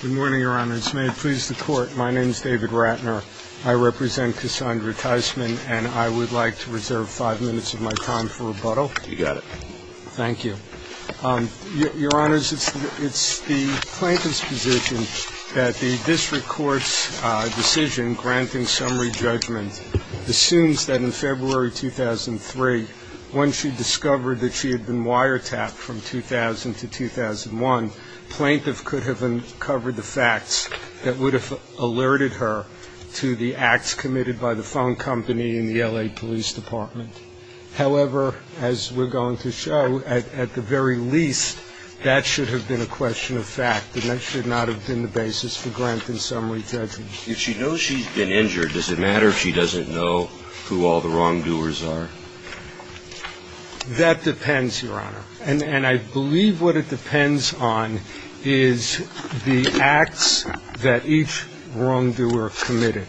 Good morning, Your Honors. May it please the Court, my name is David Ratner. I represent Cassandra Tysman, and I would like to reserve five minutes of my time for rebuttal. You got it. Thank you. Your Honors, it's the plaintiff's position that the district court's decision, granting summary judgment, assumes that in February 2003, when she discovered that she had recovered the facts that would have alerted her to the acts committed by the phone company in the L.A. Police Department. However, as we're going to show, at the very least, that should have been a question of fact, and that should not have been the basis for granting summary judgment. If she knows she's been injured, does it matter if she doesn't know who all the wrongdoers are? That depends, Your Honor, and I believe what it depends on is the acts that each wrongdoer committed.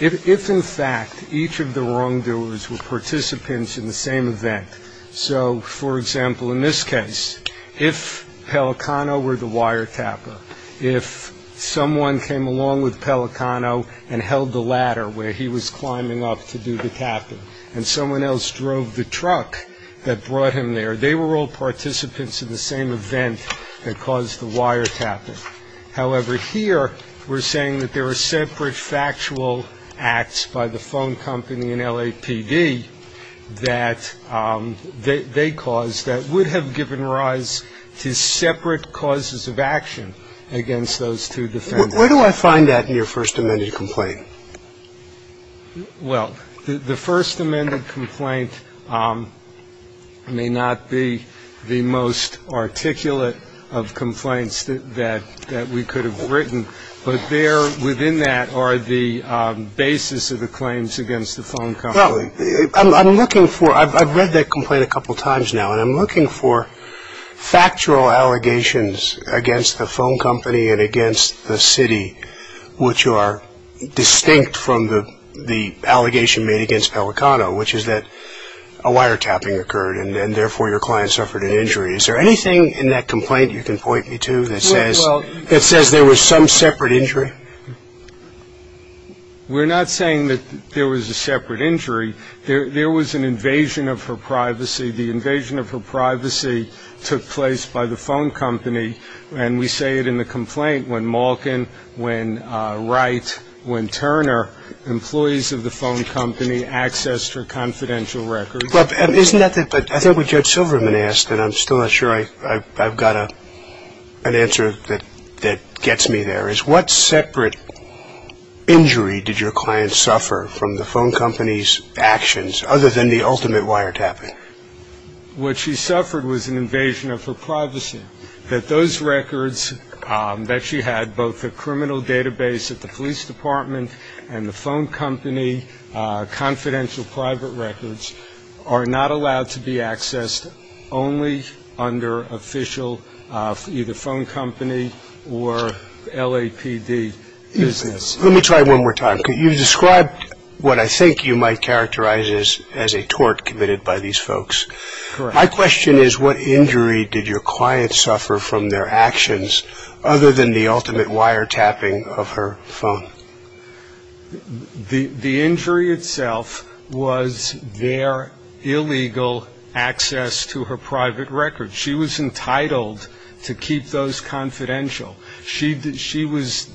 If, in fact, each of the wrongdoers were participants in the same event, so, for example, in this case, if Pellicano were the wiretapper, if someone came along with Pellicano and held the ladder where he was climbing up to do the tapping, and someone else drove the truck that brought him there, they were all participants in the same event that caused the wiretapping. However, here we're saying that there were separate factual acts by the phone company and LAPD that they caused that would have given rise to separate causes of action against those two defendants. Where do I find that in your first amended complaint? Well, the first amended complaint may not be the most articulate of complaints that we could have written, but there within that are the basis of the claims against the phone company. Well, I'm looking for – I've read that complaint a couple times now, and I'm looking for factual allegations against the phone company and against the city which are distinct from the allegation made against Pellicano, which is that a wiretapping occurred and therefore your client suffered an injury. Is there anything in that complaint you can point me to that says – Well – that says there was some separate injury? We're not saying that there was a separate injury. There was an invasion of her privacy. The invasion of her privacy took place by the phone company, and we say it in the complaint when Malkin, when Wright, when Turner, employees of the phone company, accessed her confidential records. Isn't that the – I think what Judge Silverman asked, and I'm still not sure I've got an answer that gets me there, is what separate injury did your client suffer from the phone company's actions other than the ultimate wiretapping? What she suffered was an invasion of her privacy, that those records that she had, both the criminal database at the police department and the phone company confidential private records, are not allowed to be accessed only under official – either phone company or LAPD business. Let me try it one more time. Could you describe what I think you might characterize as a tort committed by these folks? Correct. My question is, what injury did your client suffer from their actions other than the ultimate wiretapping of her phone? The injury itself was their illegal access to her private records. She was entitled to keep those confidential. She was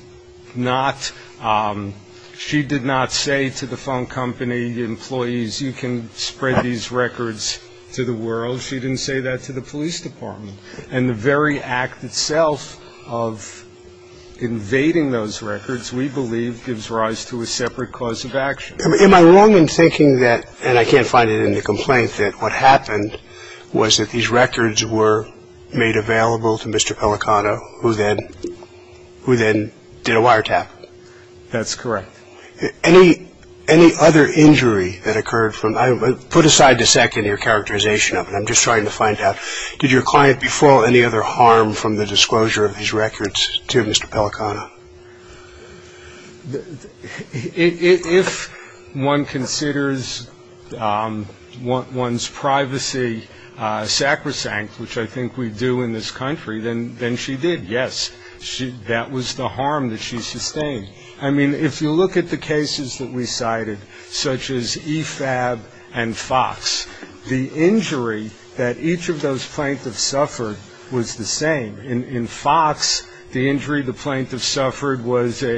not – she did not say to the phone company employees, you can spread these records to the world. She didn't say that to the police department. And the very act itself of invading those records, we believe, gives rise to a separate cause of action. Am I wrong in thinking that – and I can't find it in the complaint – that what happened was that these records were made available to Mr. Pelicano, who then did a wiretap? That's correct. Any other injury that occurred from – put aside the second your characterization of it. I'm just trying to find out, did your client befall any other harm from the disclosure of these records to Mr. Pelicano? If one considers one's privacy sacrosanct, which I think we do in this country, then she did. Yes, that was the harm that she sustained. I mean, if you look at the cases that we cited, such as EFAB and FOX, the injury that each of those plaintiffs suffered was the same. In FOX, the injury the plaintiff suffered was a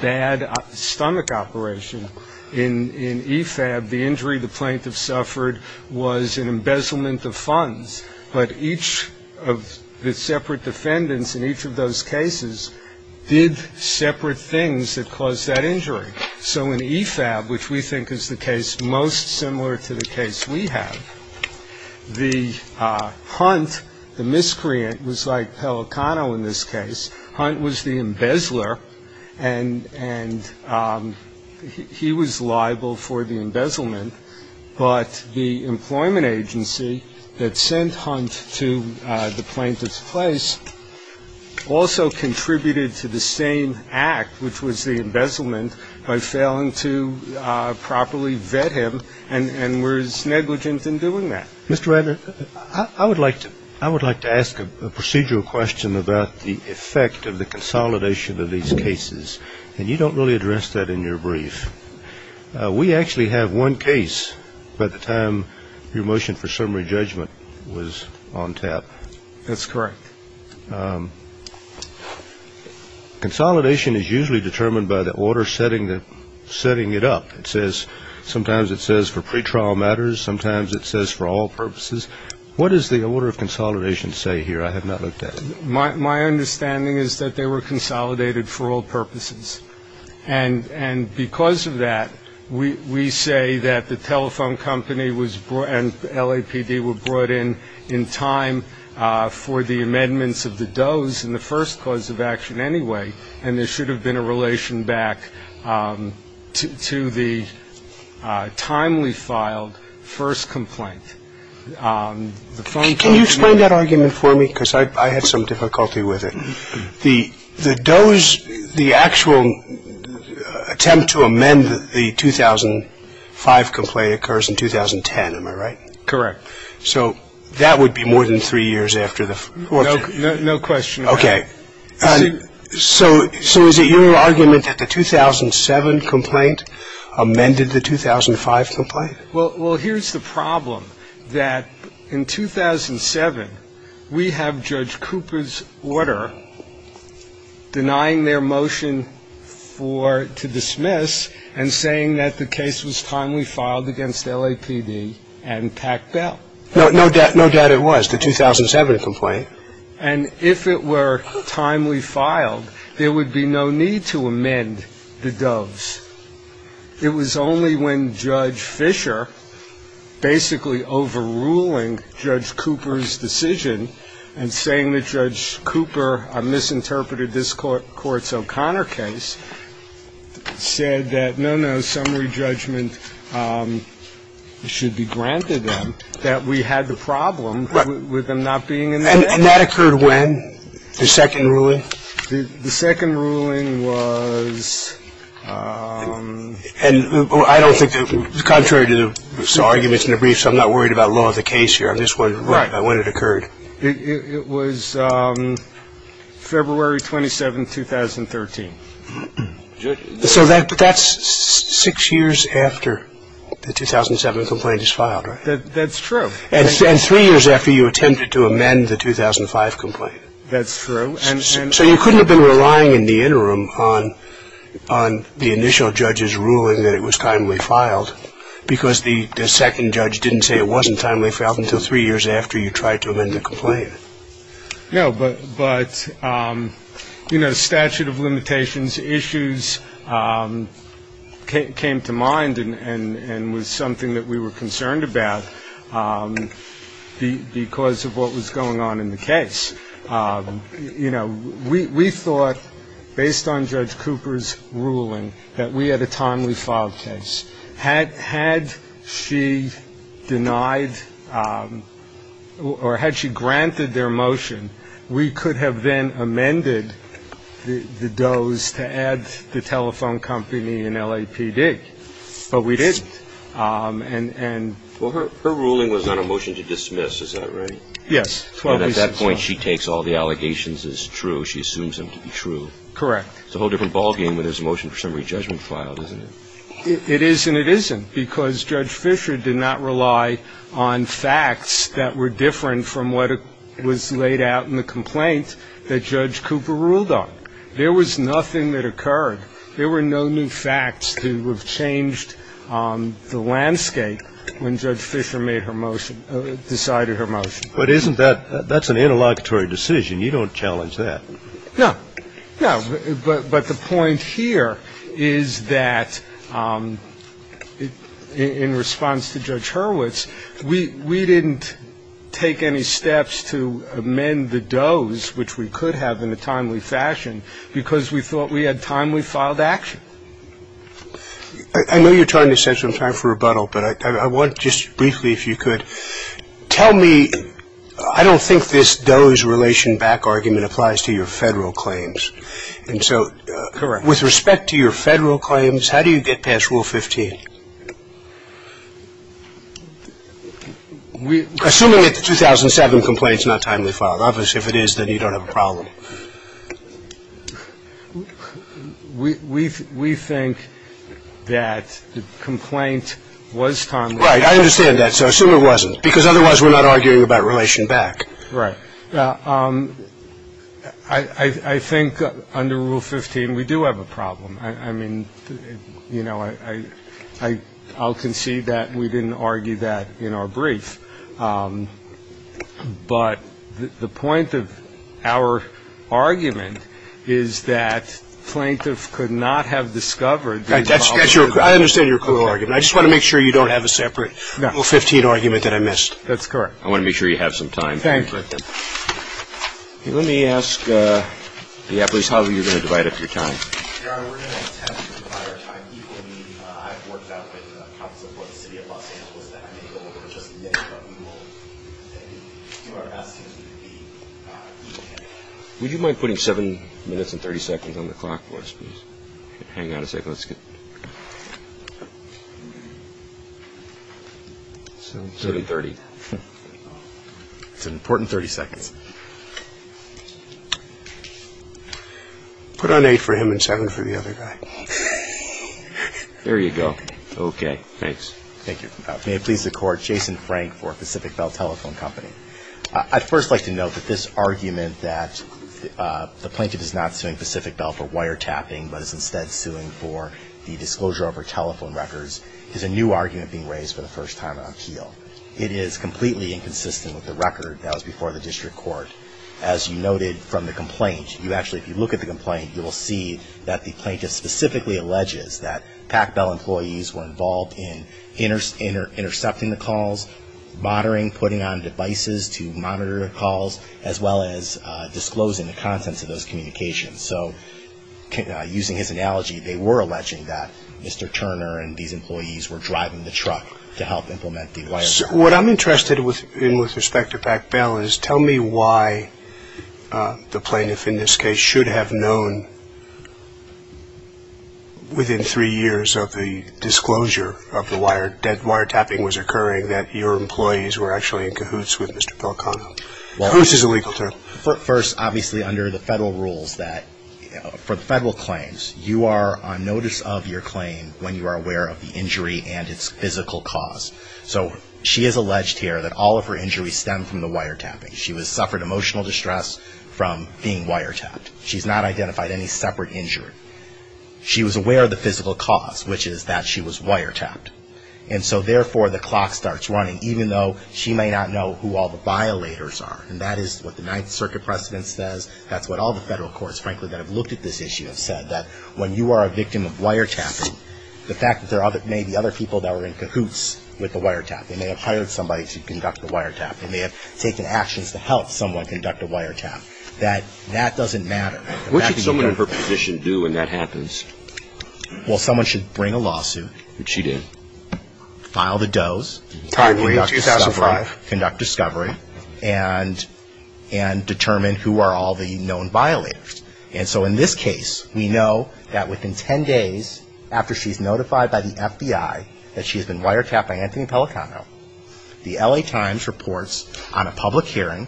bad stomach operation. In EFAB, the injury the plaintiff suffered was an embezzlement of funds. But each of the separate defendants in each of those cases did separate things that caused that injury. So in EFAB, which we think is the case most similar to the case we have, the HUNT, the miscreant, was like Pelicano in this case. HUNT was the embezzler, and he was liable for the embezzlement. But the employment agency that sent HUNT to the plaintiff's place also contributed to the same act, which was the embezzlement, by failing to properly vet him and was negligent in doing that. Mr. Radner, I would like to ask a procedural question about the effect of the consolidation of these cases. And you don't really address that in your brief. We actually have one case by the time your motion for summary judgment was on tap. That's correct. Consolidation is usually determined by the order setting it up. It says, sometimes it says for pretrial matters, sometimes it says for all purposes. What does the order of consolidation say here? I have not looked at it. My understanding is that they were consolidated for all purposes. And because of that, we say that the telephone company and LAPD were brought in in time for the amendments of the Doe's in the first cause of action anyway, and there should have been a relation back to the timely filed first complaint. Can you explain that argument for me? Because I had some difficulty with it. The Doe's the actual attempt to amend the 2005 complaint occurs in 2010, am I right? Correct. So that would be more than three years after the fourth. No question. Okay. So is it your argument that the 2007 complaint amended the 2005 complaint? Well, here's the problem, that in 2007, we have Judge Cooper's order denying their motion for to dismiss and saying that the case was timely filed against LAPD and Pack Bell. No doubt it was, the 2007 complaint. And if it were timely filed, there would be no need to amend the Doe's. It was only when Judge Fischer, basically overruling Judge Cooper's decision and saying that Judge Cooper misinterpreted this Court's O'Connor case, said that no, no, summary judgment should be granted them, that we had the problem with them not being in there. And that occurred when? The second ruling? The second ruling was... And I don't think that, contrary to the arguments in the briefs, I'm not worried about law of the case here on this one, but when it occurred. It was February 27, 2013. So that's six years after the 2007 complaint is filed, right? That's true. And three years after you attempted to amend the 2005 complaint. That's true. So you couldn't have been relying in the interim on the initial judge's ruling that it was timely filed, because the second judge didn't say it wasn't timely filed until three years after you tried to amend the complaint. No, but, you know, statute of limitations issues came to mind and was something that we were concerned about because of what was going on in the case. You know, we thought, based on Judge Cooper's ruling, that we had a timely filed case. Had she denied or had she granted their motion, we could have then amended the DOE's to add the telephone company and LAPD. But we didn't. Well, her ruling was not a motion to dismiss. Is that right? Yes. At that point, she takes all the allegations as true. She assumes them to be true. Correct. It's a whole different ballgame when there's a motion for summary judgment filed, isn't it? It is and it isn't, because Judge Fisher did not rely on facts that were different from what was laid out in the complaint that Judge Cooper ruled on. There was nothing that occurred. There were no new facts to have changed the landscape when Judge Fisher made her motion, decided her motion. But isn't that an interlocutory decision? You don't challenge that. No. No. But the point here is that in response to Judge Hurwitz, we didn't take any steps to amend the DOE's, which we could have in a timely fashion, because we thought we had timely filed action. I know you're trying to set some time for rebuttal, but I want to just briefly, if you could, tell me, I don't think this DOE's relation back argument applies to your Federal claims. And so with respect to your Federal claims, how do you get past Rule 15? Assuming that the 2007 complaint is not timely filed. We think that the complaint was timely filed. Right. I understand that. So I assume it wasn't, because otherwise we're not arguing about relation back. Right. I think under Rule 15, we do have a problem. I mean, you know, I'll concede that we didn't argue that in our brief. But the point of our argument is that plaintiff could not have discovered the involvement of the DOE. Right. That's your, I understand your core argument. I just want to make sure you don't have a separate Rule 15 argument that I missed. That's correct. I want to make sure you have some time. Thank you. Let me ask, yeah, please, how are you going to divide up your time? We're going to attempt to divide our time equally. I've worked out with counsel for the city of Los Angeles that I may go over just a little bit more. And you are asking us to be even. Would you mind putting seven minutes and 30 seconds on the clock for us, please? Hang on a second. Let's get. Seven thirty. It's an important 30 seconds. Put on eight for him and seven for the other guy. There you go. Okay. Thanks. Thank you. May it please the Court. Jason Frank for Pacific Bell Telephone Company. I'd first like to note that this argument that the plaintiff is not suing Pacific Bell for wiretapping, but is instead suing for the disclosure of her telephone records, is a new argument being raised for the first time on appeal. It is completely inconsistent with the record that was before the district court. As you noted from the complaint, you actually, if you look at the complaint, you will see that the plaintiff specifically alleges that PacBell employees were involved in intercepting the calls, monitoring, putting on devices to monitor calls, as well as disclosing the contents of those communications. So using his analogy, they were alleging that Mr. Turner and these employees were driving the truck to help implement the wiretapping. What I'm interested in with respect to PacBell is tell me why the plaintiff in this case should have known, within three years of the disclosure of the wiretapping was occurring, that your employees were actually in cahoots with Mr. Pelicano. Cahoots is a legal term. First, obviously, under the federal rules that, for the federal claims, you are on notice of your claim when you are aware of the injury and its physical cause. So she has alleged here that all of her injuries stem from the wiretapping. She suffered emotional distress from being wiretapped. She's not identified any separate injury. She was aware of the physical cause, which is that she was wiretapped. And so, therefore, the clock starts running, even though she may not know who all the violators are. And that is what the Ninth Circuit precedence says. That's what all the federal courts, frankly, that have looked at this issue have said, that when you are a victim of wiretapping, the fact that there may be other people that were in cahoots with the wiretapping, they may have hired somebody to conduct the wiretapping, they may have taken actions to help someone conduct a wiretapping, that that doesn't matter. What should someone in her position do when that happens? Well, someone should bring a lawsuit. Which she did. File the does. Timely, 2005. Conduct discovery. And determine who are all the known violators. And so, in this case, we know that within ten days after she's notified by the FBI that she has been wiretapped by Anthony Pelicano, the L.A. Times reports on a public hearing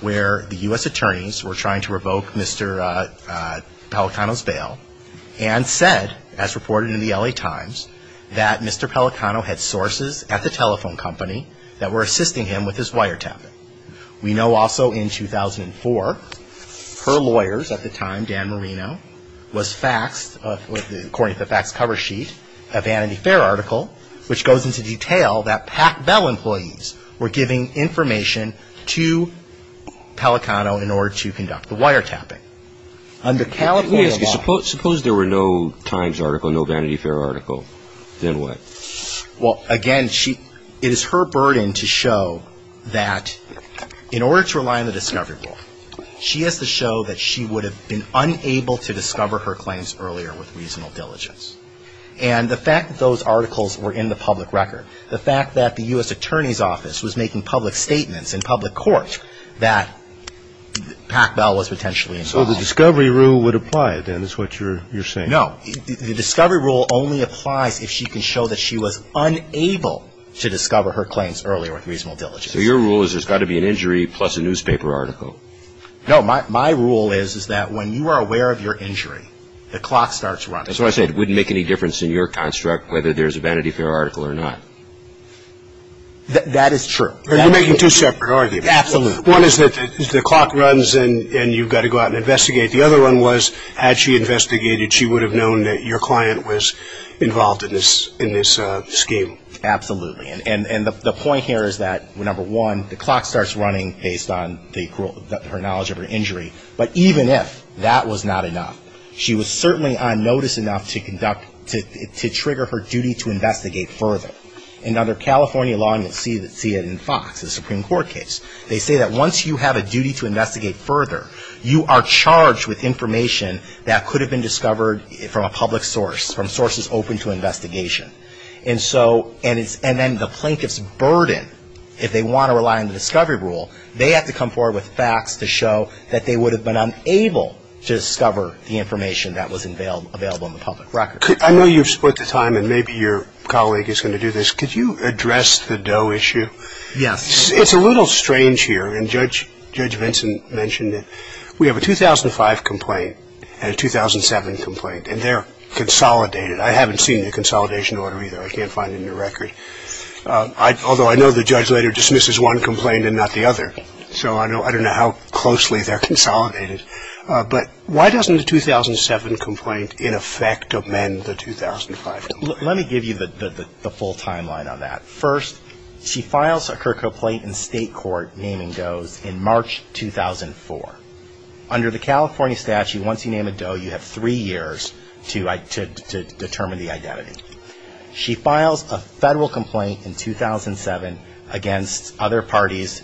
where the U.S. attorneys were trying to revoke Mr. Pelicano's bail and said, as reported in the L.A. Times, that Mr. Pelicano had sources at the telephone company that were assisting him with his wiretapping. We know also in 2004, her lawyers at the time, Dan Marino, was faxed, according to the faxed cover sheet, a Vanity Fair article, which goes into detail that Pac-Bell employees were giving information to Pelicano in order to conduct the wiretapping. Under California law. Suppose there were no Times article, no Vanity Fair article. Then what? Well, again, it is her burden to show that in order to rely on the discovery rule, she has to show that she would have been unable to discover her claims earlier with reasonable diligence. And the fact that those articles were in the public record, the fact that the U.S. attorney's office was making public statements in public court that Pac-Bell was potentially involved. So the discovery rule would apply, then, is what you're saying. No. The discovery rule only applies if she can show that she was unable to discover her claims earlier with reasonable diligence. So your rule is there's got to be an injury plus a newspaper article. No. My rule is that when you are aware of your injury, the clock starts running. That's why I said it wouldn't make any difference in your construct whether there's a Vanity Fair article or not. That is true. You're making two separate arguments. Absolutely. One is that the clock runs and you've got to go out and investigate. The other one was had she investigated, she would have known that your client was involved in this scheme. Absolutely. And the point here is that, number one, the clock starts running based on her knowledge of her injury. But even if that was not enough, she was certainly on notice enough to trigger her duty to investigate further. And under California law, and you'll see it in FOX, the Supreme Court case, they say that once you have a duty to investigate further, you are charged with information that could have been discovered from a public source, from sources open to investigation. And so, and then the plaintiff's burden, if they want to rely on the discovery rule, they have to come forward with facts to show that they would have been unable to discover the information that was available in the public record. I know you've split the time and maybe your colleague is going to do this. Could you address the Doe issue? Yes. It's a little strange here, and Judge Vincent mentioned it. We have a 2005 complaint and a 2007 complaint, and they're consolidated. I haven't seen the consolidation order either. I can't find it in the record. Although I know the judge later dismisses one complaint and not the other. So I don't know how closely they're consolidated. But why doesn't the 2007 complaint, in effect, amend the 2005 complaint? Let me give you the full timeline on that. First, she files her complaint in state court naming Doe's in March 2004. Under the California statute, once you name a Doe, you have three years to determine the identity. She files a federal complaint in 2007 against other parties.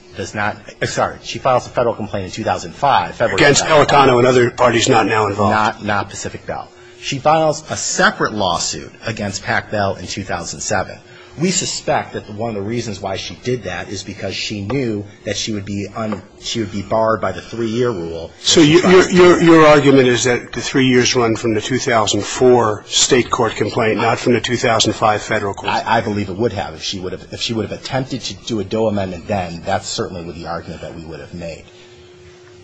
Sorry, she files a federal complaint in 2005. Against El Tonno and other parties not now involved. Not Pacific Bell. She files a separate lawsuit against Pac Bell in 2007. We suspect that one of the reasons why she did that is because she knew that she would be un ‑‑ she would be barred by the three-year rule. So your argument is that the three years run from the 2004 state court complaint, not from the 2005 federal court? I believe it would have. If she would have attempted to do a Doe amendment then, that's certainly the argument that we would have made.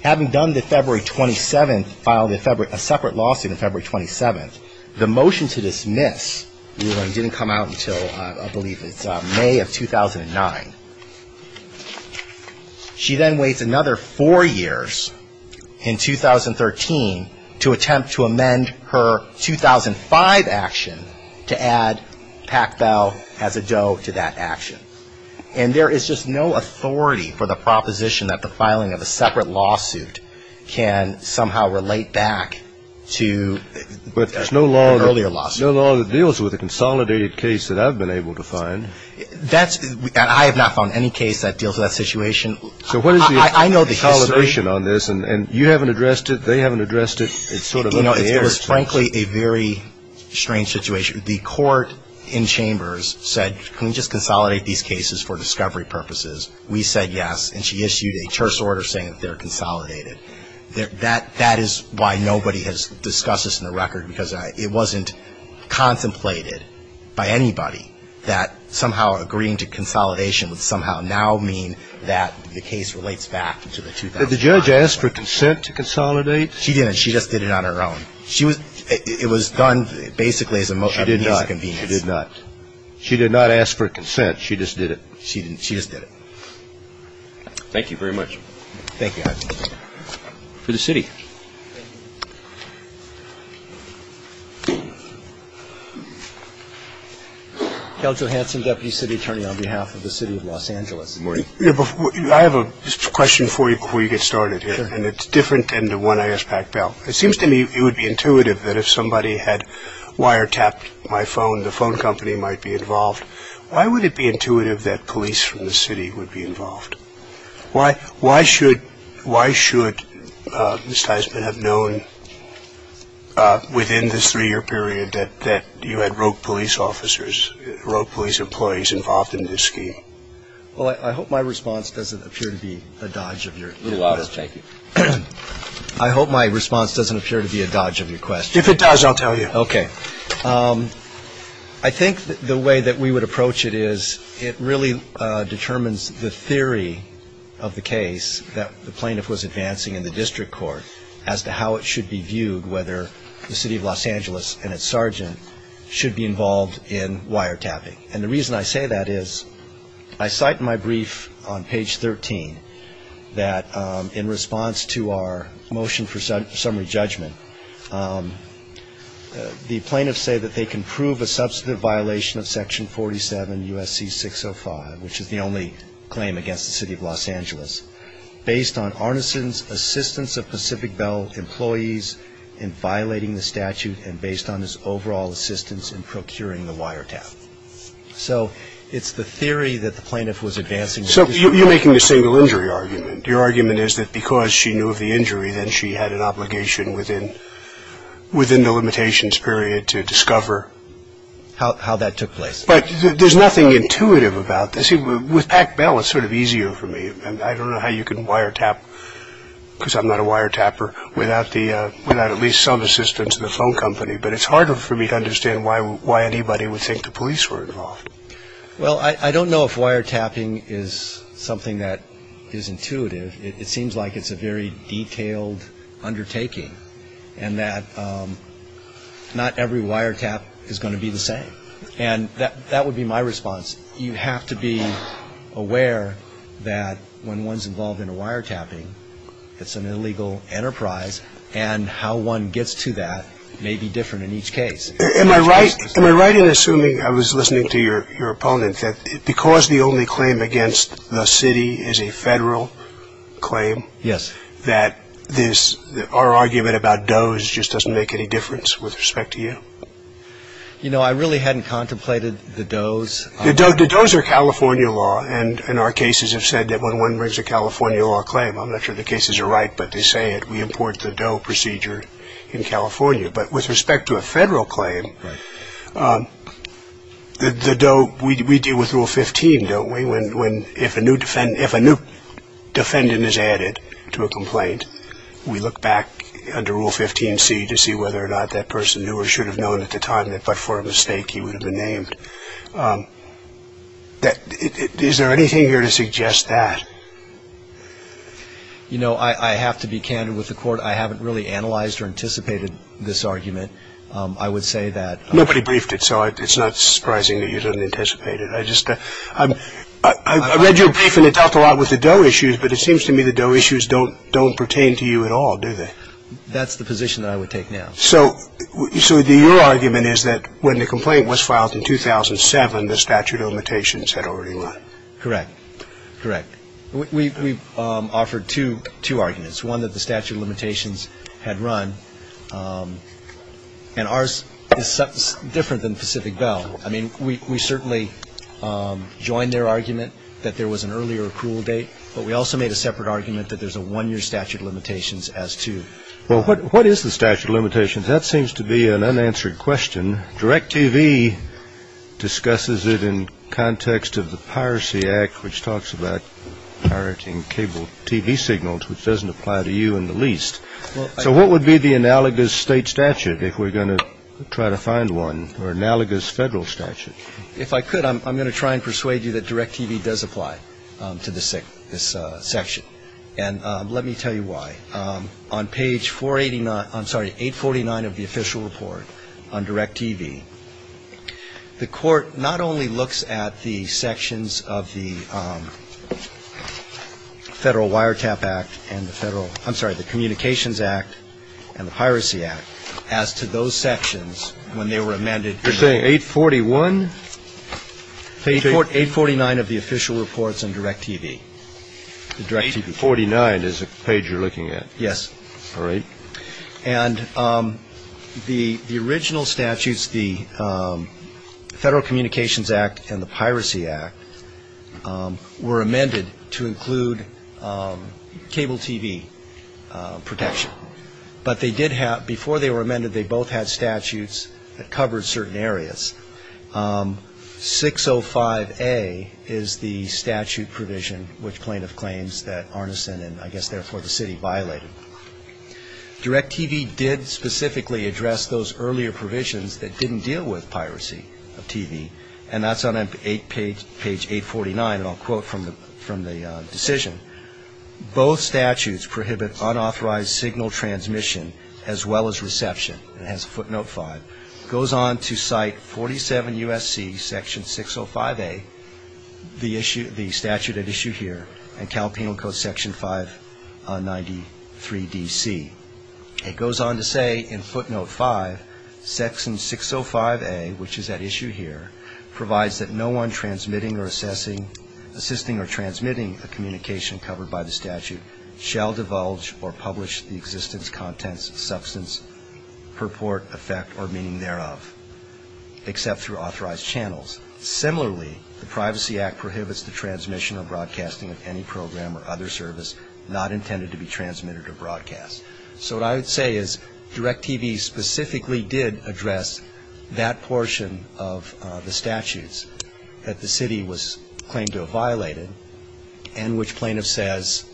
Having done the February 27th, filed a separate lawsuit on February 27th, the motion to dismiss, didn't come out until I believe it's May of 2009. She then waits another four years in 2013 to attempt to amend her 2005 action to add Pac Bell as a Doe to that action. And there is just no authority for the proposition that the filing of a separate lawsuit can somehow relate back to ‑‑ An earlier lawsuit. A consolidated case that I've been able to find. That's ‑‑ I have not found any case that deals with that situation. So what is the consolidation on this? And you haven't addressed it, they haven't addressed it. It's sort of up in the air. You know, it was frankly a very strange situation. The court in chambers said, can we just consolidate these cases for discovery purposes? We said yes. And she issued a church order saying that they're consolidated. That is why nobody has discussed this in the record. Because it wasn't contemplated by anybody that somehow agreeing to consolidation would somehow now mean that the case relates back to the 2005. Did the judge ask for consent to consolidate? She didn't. She just did it on her own. It was done basically as a means of convenience. She did not. She did not. She did not ask for consent. She just did it. She just did it. Thank you very much. Thank you. For the city. Cal Johansson, deputy city attorney on behalf of the city of Los Angeles. Good morning. I have a question for you before you get started here. Sure. And it's different than the one I asked Pat Bell. It seems to me it would be intuitive that if somebody had wiretapped my phone, the phone company might be involved. Why would it be intuitive that police from the city would be involved? Why should Mr. Heisman have known within this three-year period that you had rogue police officers, rogue police employees involved in this scheme? Well, I hope my response doesn't appear to be a dodge of your question. I hope my response doesn't appear to be a dodge of your question. If it does, I'll tell you. Okay. I think the way that we would approach it is it really determines the theory of the case that the plaintiff was advancing in the district court as to how it should be viewed, whether the city of Los Angeles and its sergeant should be involved in wiretapping. And the reason I say that is I cite in my brief on page 13 that in response to our motion for summary judgment, the plaintiffs say that they can prove a substantive violation of Section 47 U.S.C. 605, which is the only claim against the city of Los Angeles, based on Arneson's assistance of Pacific Bell employees in violating the statute and based on his overall assistance in procuring the wiretap. So it's the theory that the plaintiff was advancing. So you're making a single injury argument. Your argument is that because she knew of the injury, then she had an obligation within the limitations period to discover. How that took place. But there's nothing intuitive about this. With Pac Bell, it's sort of easier for me. And I don't know how you can wiretap, because I'm not a wiretapper, without at least some assistance in the phone company. But it's harder for me to understand why anybody would think the police were involved. Well, I don't know if wiretapping is something that is intuitive. It seems like it's a very detailed undertaking and that not every wiretap is going to be the same. And that would be my response. You have to be aware that when one's involved in a wiretapping, it's an illegal enterprise, and how one gets to that may be different in each case. Am I right in assuming, I was listening to your opponent, that because the only claim against the city is a federal claim, that our argument about does just doesn't make any difference with respect to you? You know, I really hadn't contemplated the does. The does are California law. And our cases have said that when one brings a California law claim, I'm not sure the cases are right, but they say it. We import the does procedure in California. But with respect to a federal claim, the does, we deal with Rule 15, don't we, when if a new defendant is added to a complaint, we look back under Rule 15C to see whether or not that person knew or should have known at the time that, but for a mistake, he would have been named. Is there anything here to suggest that? You know, I have to be candid with the Court. I haven't really analyzed or anticipated this argument. I would say that. Nobody briefed it, so it's not surprising that you didn't anticipate it. I read your brief and it dealt a lot with the does issues, but it seems to me the does issues don't pertain to you at all, do they? That's the position that I would take now. So your argument is that when the complaint was filed in 2007, the statute of limitations had already won. Correct. Correct. We've offered two arguments, one that the statute of limitations had run, and ours is different than Pacific Bell. I mean, we certainly joined their argument that there was an earlier accrual date, but we also made a separate argument that there's a one-year statute of limitations as to. Well, what is the statute of limitations? That seems to be an unanswered question. Direct TV discusses it in context of the Piracy Act, which talks about pirating cable TV signals, which doesn't apply to you in the least. So what would be the analogous state statute if we're going to try to find one, or analogous federal statute? If I could, I'm going to try and persuade you that Direct TV does apply to this section. And let me tell you why. On page 489, I'm sorry, 849 of the official report on Direct TV, the Court not only looks at the sections of the Federal Wiretap Act and the Federal – I'm sorry, the Communications Act and the Piracy Act as to those sections when they were amended. You're saying 841? 849 of the official reports on Direct TV. 849 is the page you're looking at? Yes. All right. And the original statutes, the Federal Communications Act and the Piracy Act, were amended to include cable TV protection. But they did have – before they were amended, they both had statutes that covered certain areas. 605A is the statute provision, which plaintiff claims that Arneson and I guess therefore the city violated. Direct TV did specifically address those earlier provisions that didn't deal with piracy of TV, and that's on page 849, and I'll quote from the decision. Both statutes prohibit unauthorized signal transmission as well as reception. It has a footnote 5. It goes on to cite 47 U.S.C. section 605A, the statute at issue here, and Cal Penal Code section 593 D.C. It goes on to say in footnote 5, section 605A, which is at issue here, provides that no one transmitting or assessing – assisting or transmitting a communication covered by the statute shall divulge or publish the existence, contents, substance, purport, effect, or meaning thereof, except through authorized channels. Similarly, the Privacy Act prohibits the transmission or broadcasting of any program or other service not intended to be transmitted or broadcast. So what I would say is Direct TV specifically did address that portion of the statutes that the city was claimed to have violated and which plaintiffs says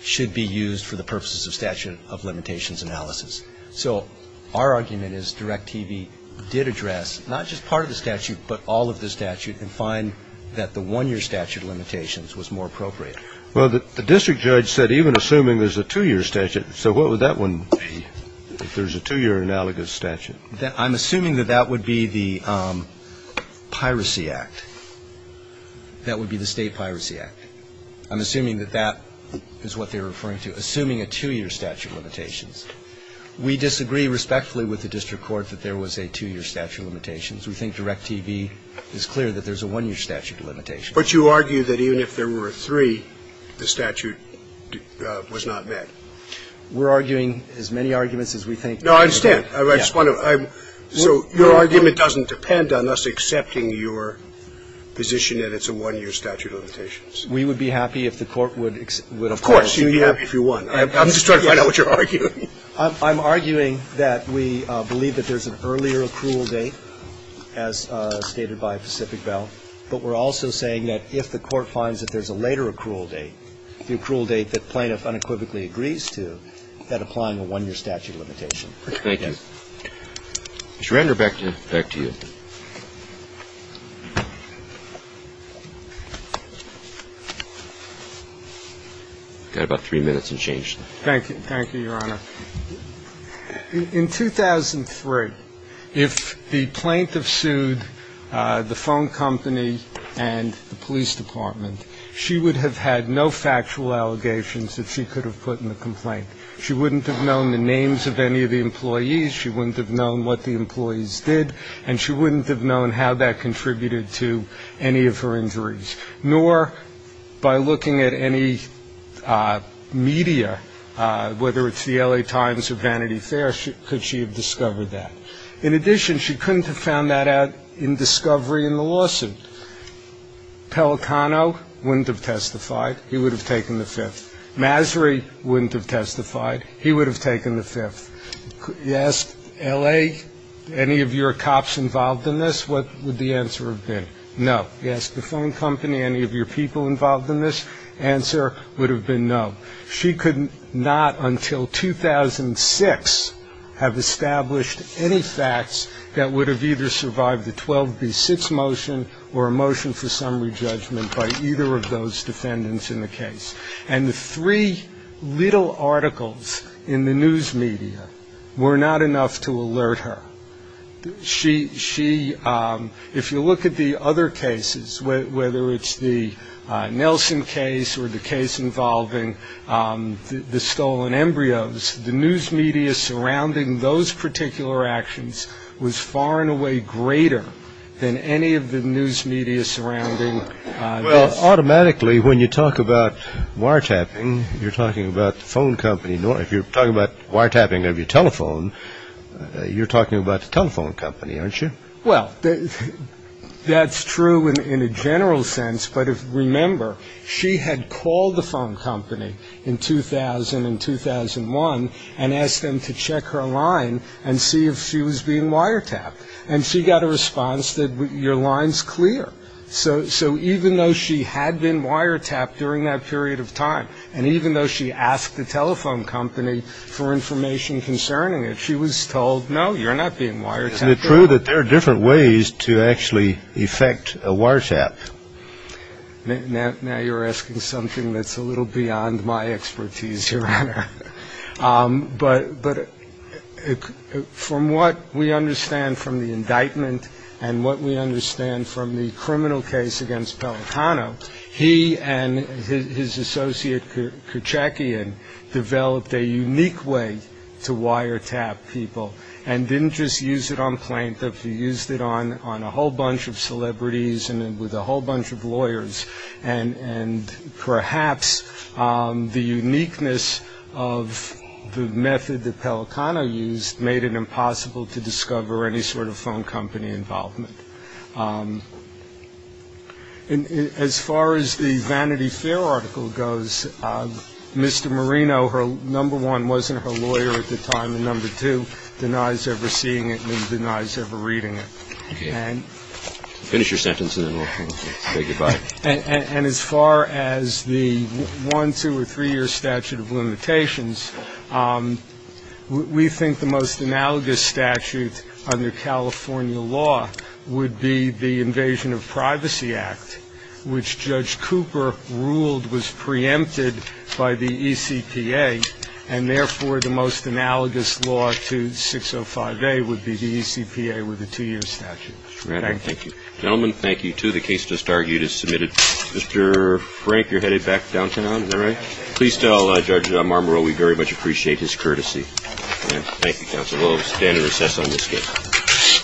should be used for the purposes of statute of limitations analysis. So our argument is Direct TV did address not just part of the statute but all of the statute and find that the one-year statute of limitations was more appropriate. Well, the district judge said even assuming there's a two-year statute, so what would that one be if there's a two-year analogous statute? I'm assuming that that would be the Piracy Act. That would be the State Piracy Act. I'm assuming that that is what they're referring to, assuming a two-year statute of limitations. We disagree respectfully with the district court that there was a two-year statute of limitations. We think Direct TV is clear that there's a one-year statute of limitations. But you argue that even if there were three, the statute was not met. We're arguing as many arguments as we think. No, I understand. I just want to so your argument doesn't depend on us accepting your position that it's a one-year statute of limitations. We would be happy if the court would accept. Of course, you'd be happy if you won. I'm just trying to find out what you're arguing. I'm arguing that we believe that there's an earlier accrual date, as stated by Pacific Bell, but we're also saying that if the court finds that there's a later accrual date, the accrual date that plaintiff unequivocally agrees to, that applying a one-year statute of limitation. Thank you. Mr. Render, back to you. I've got about three minutes and change. Thank you. Thank you, Your Honor. In 2003, if the plaintiff sued the phone company and the police department, she would have had no factual allegations that she could have put in the complaint. She wouldn't have known the names of any of the employees. She wouldn't have known what the employees did. And she wouldn't have known how that contributed to any of her injuries. Nor by looking at any media, whether it's the L.A. Times or Vanity Fair, could she have discovered that. In addition, she couldn't have found that out in discovery in the lawsuit. Pelicano wouldn't have testified. He would have taken the Fifth. Mazri wouldn't have testified. He would have taken the Fifth. You ask L.A., any of your cops involved in this, what would the answer have been? No. You ask the phone company, any of your people involved in this, answer would have been no. She could not until 2006 have established any facts that would have either survived the 12B6 motion or a motion for summary judgment by either of those defendants in the case. And the three little articles in the news media were not enough to alert her. She, if you look at the other cases, whether it's the Nelson case or the case involving the stolen embryos, the news media surrounding those particular actions was far and away greater than any of the news media surrounding this. Automatically, when you talk about wiretapping, you're talking about the phone company. If you're talking about wiretapping of your telephone, you're talking about the telephone company, aren't you? Well, that's true in a general sense. But remember, she had called the phone company in 2000 and 2001 and asked them to check her line and see if she was being wiretapped. And she got a response that your line's clear. So even though she had been wiretapped during that period of time and even though she asked the telephone company for information concerning it, she was told, no, you're not being wiretapped at all. Isn't it true that there are different ways to actually effect a wiretap? Now you're asking something that's a little beyond my expertise, Your Honor. But from what we understand from the indictment and what we understand from the criminal case against Pelicano, he and his associate Kurchakian developed a unique way to wiretap people and didn't just use it on plaintiff. He used it on a whole bunch of celebrities and with a whole bunch of lawyers. And perhaps the uniqueness of the method that Pelicano used made it impossible to As far as the Vanity Fair article goes, Mr. Marino, number one, wasn't her lawyer at the time, and number two, denies ever seeing it and denies ever reading it. Okay. Finish your sentence and then we'll say goodbye. And as far as the one, two or three year statute of limitations, we think the most analogous statute under California law would be the Invasion of Privacy Act, which Judge Cooper ruled was preempted by the ECPA, and therefore the most analogous law to 605A would be the ECPA with the two year statute. Thank you. Gentlemen, thank you, too. The case just argued is submitted. Mr. Frank, you're headed back downtown, is that right? Please tell Judge Marmaro we very much appreciate his courtesy. Thank you, counsel. We'll stand and recess on this case.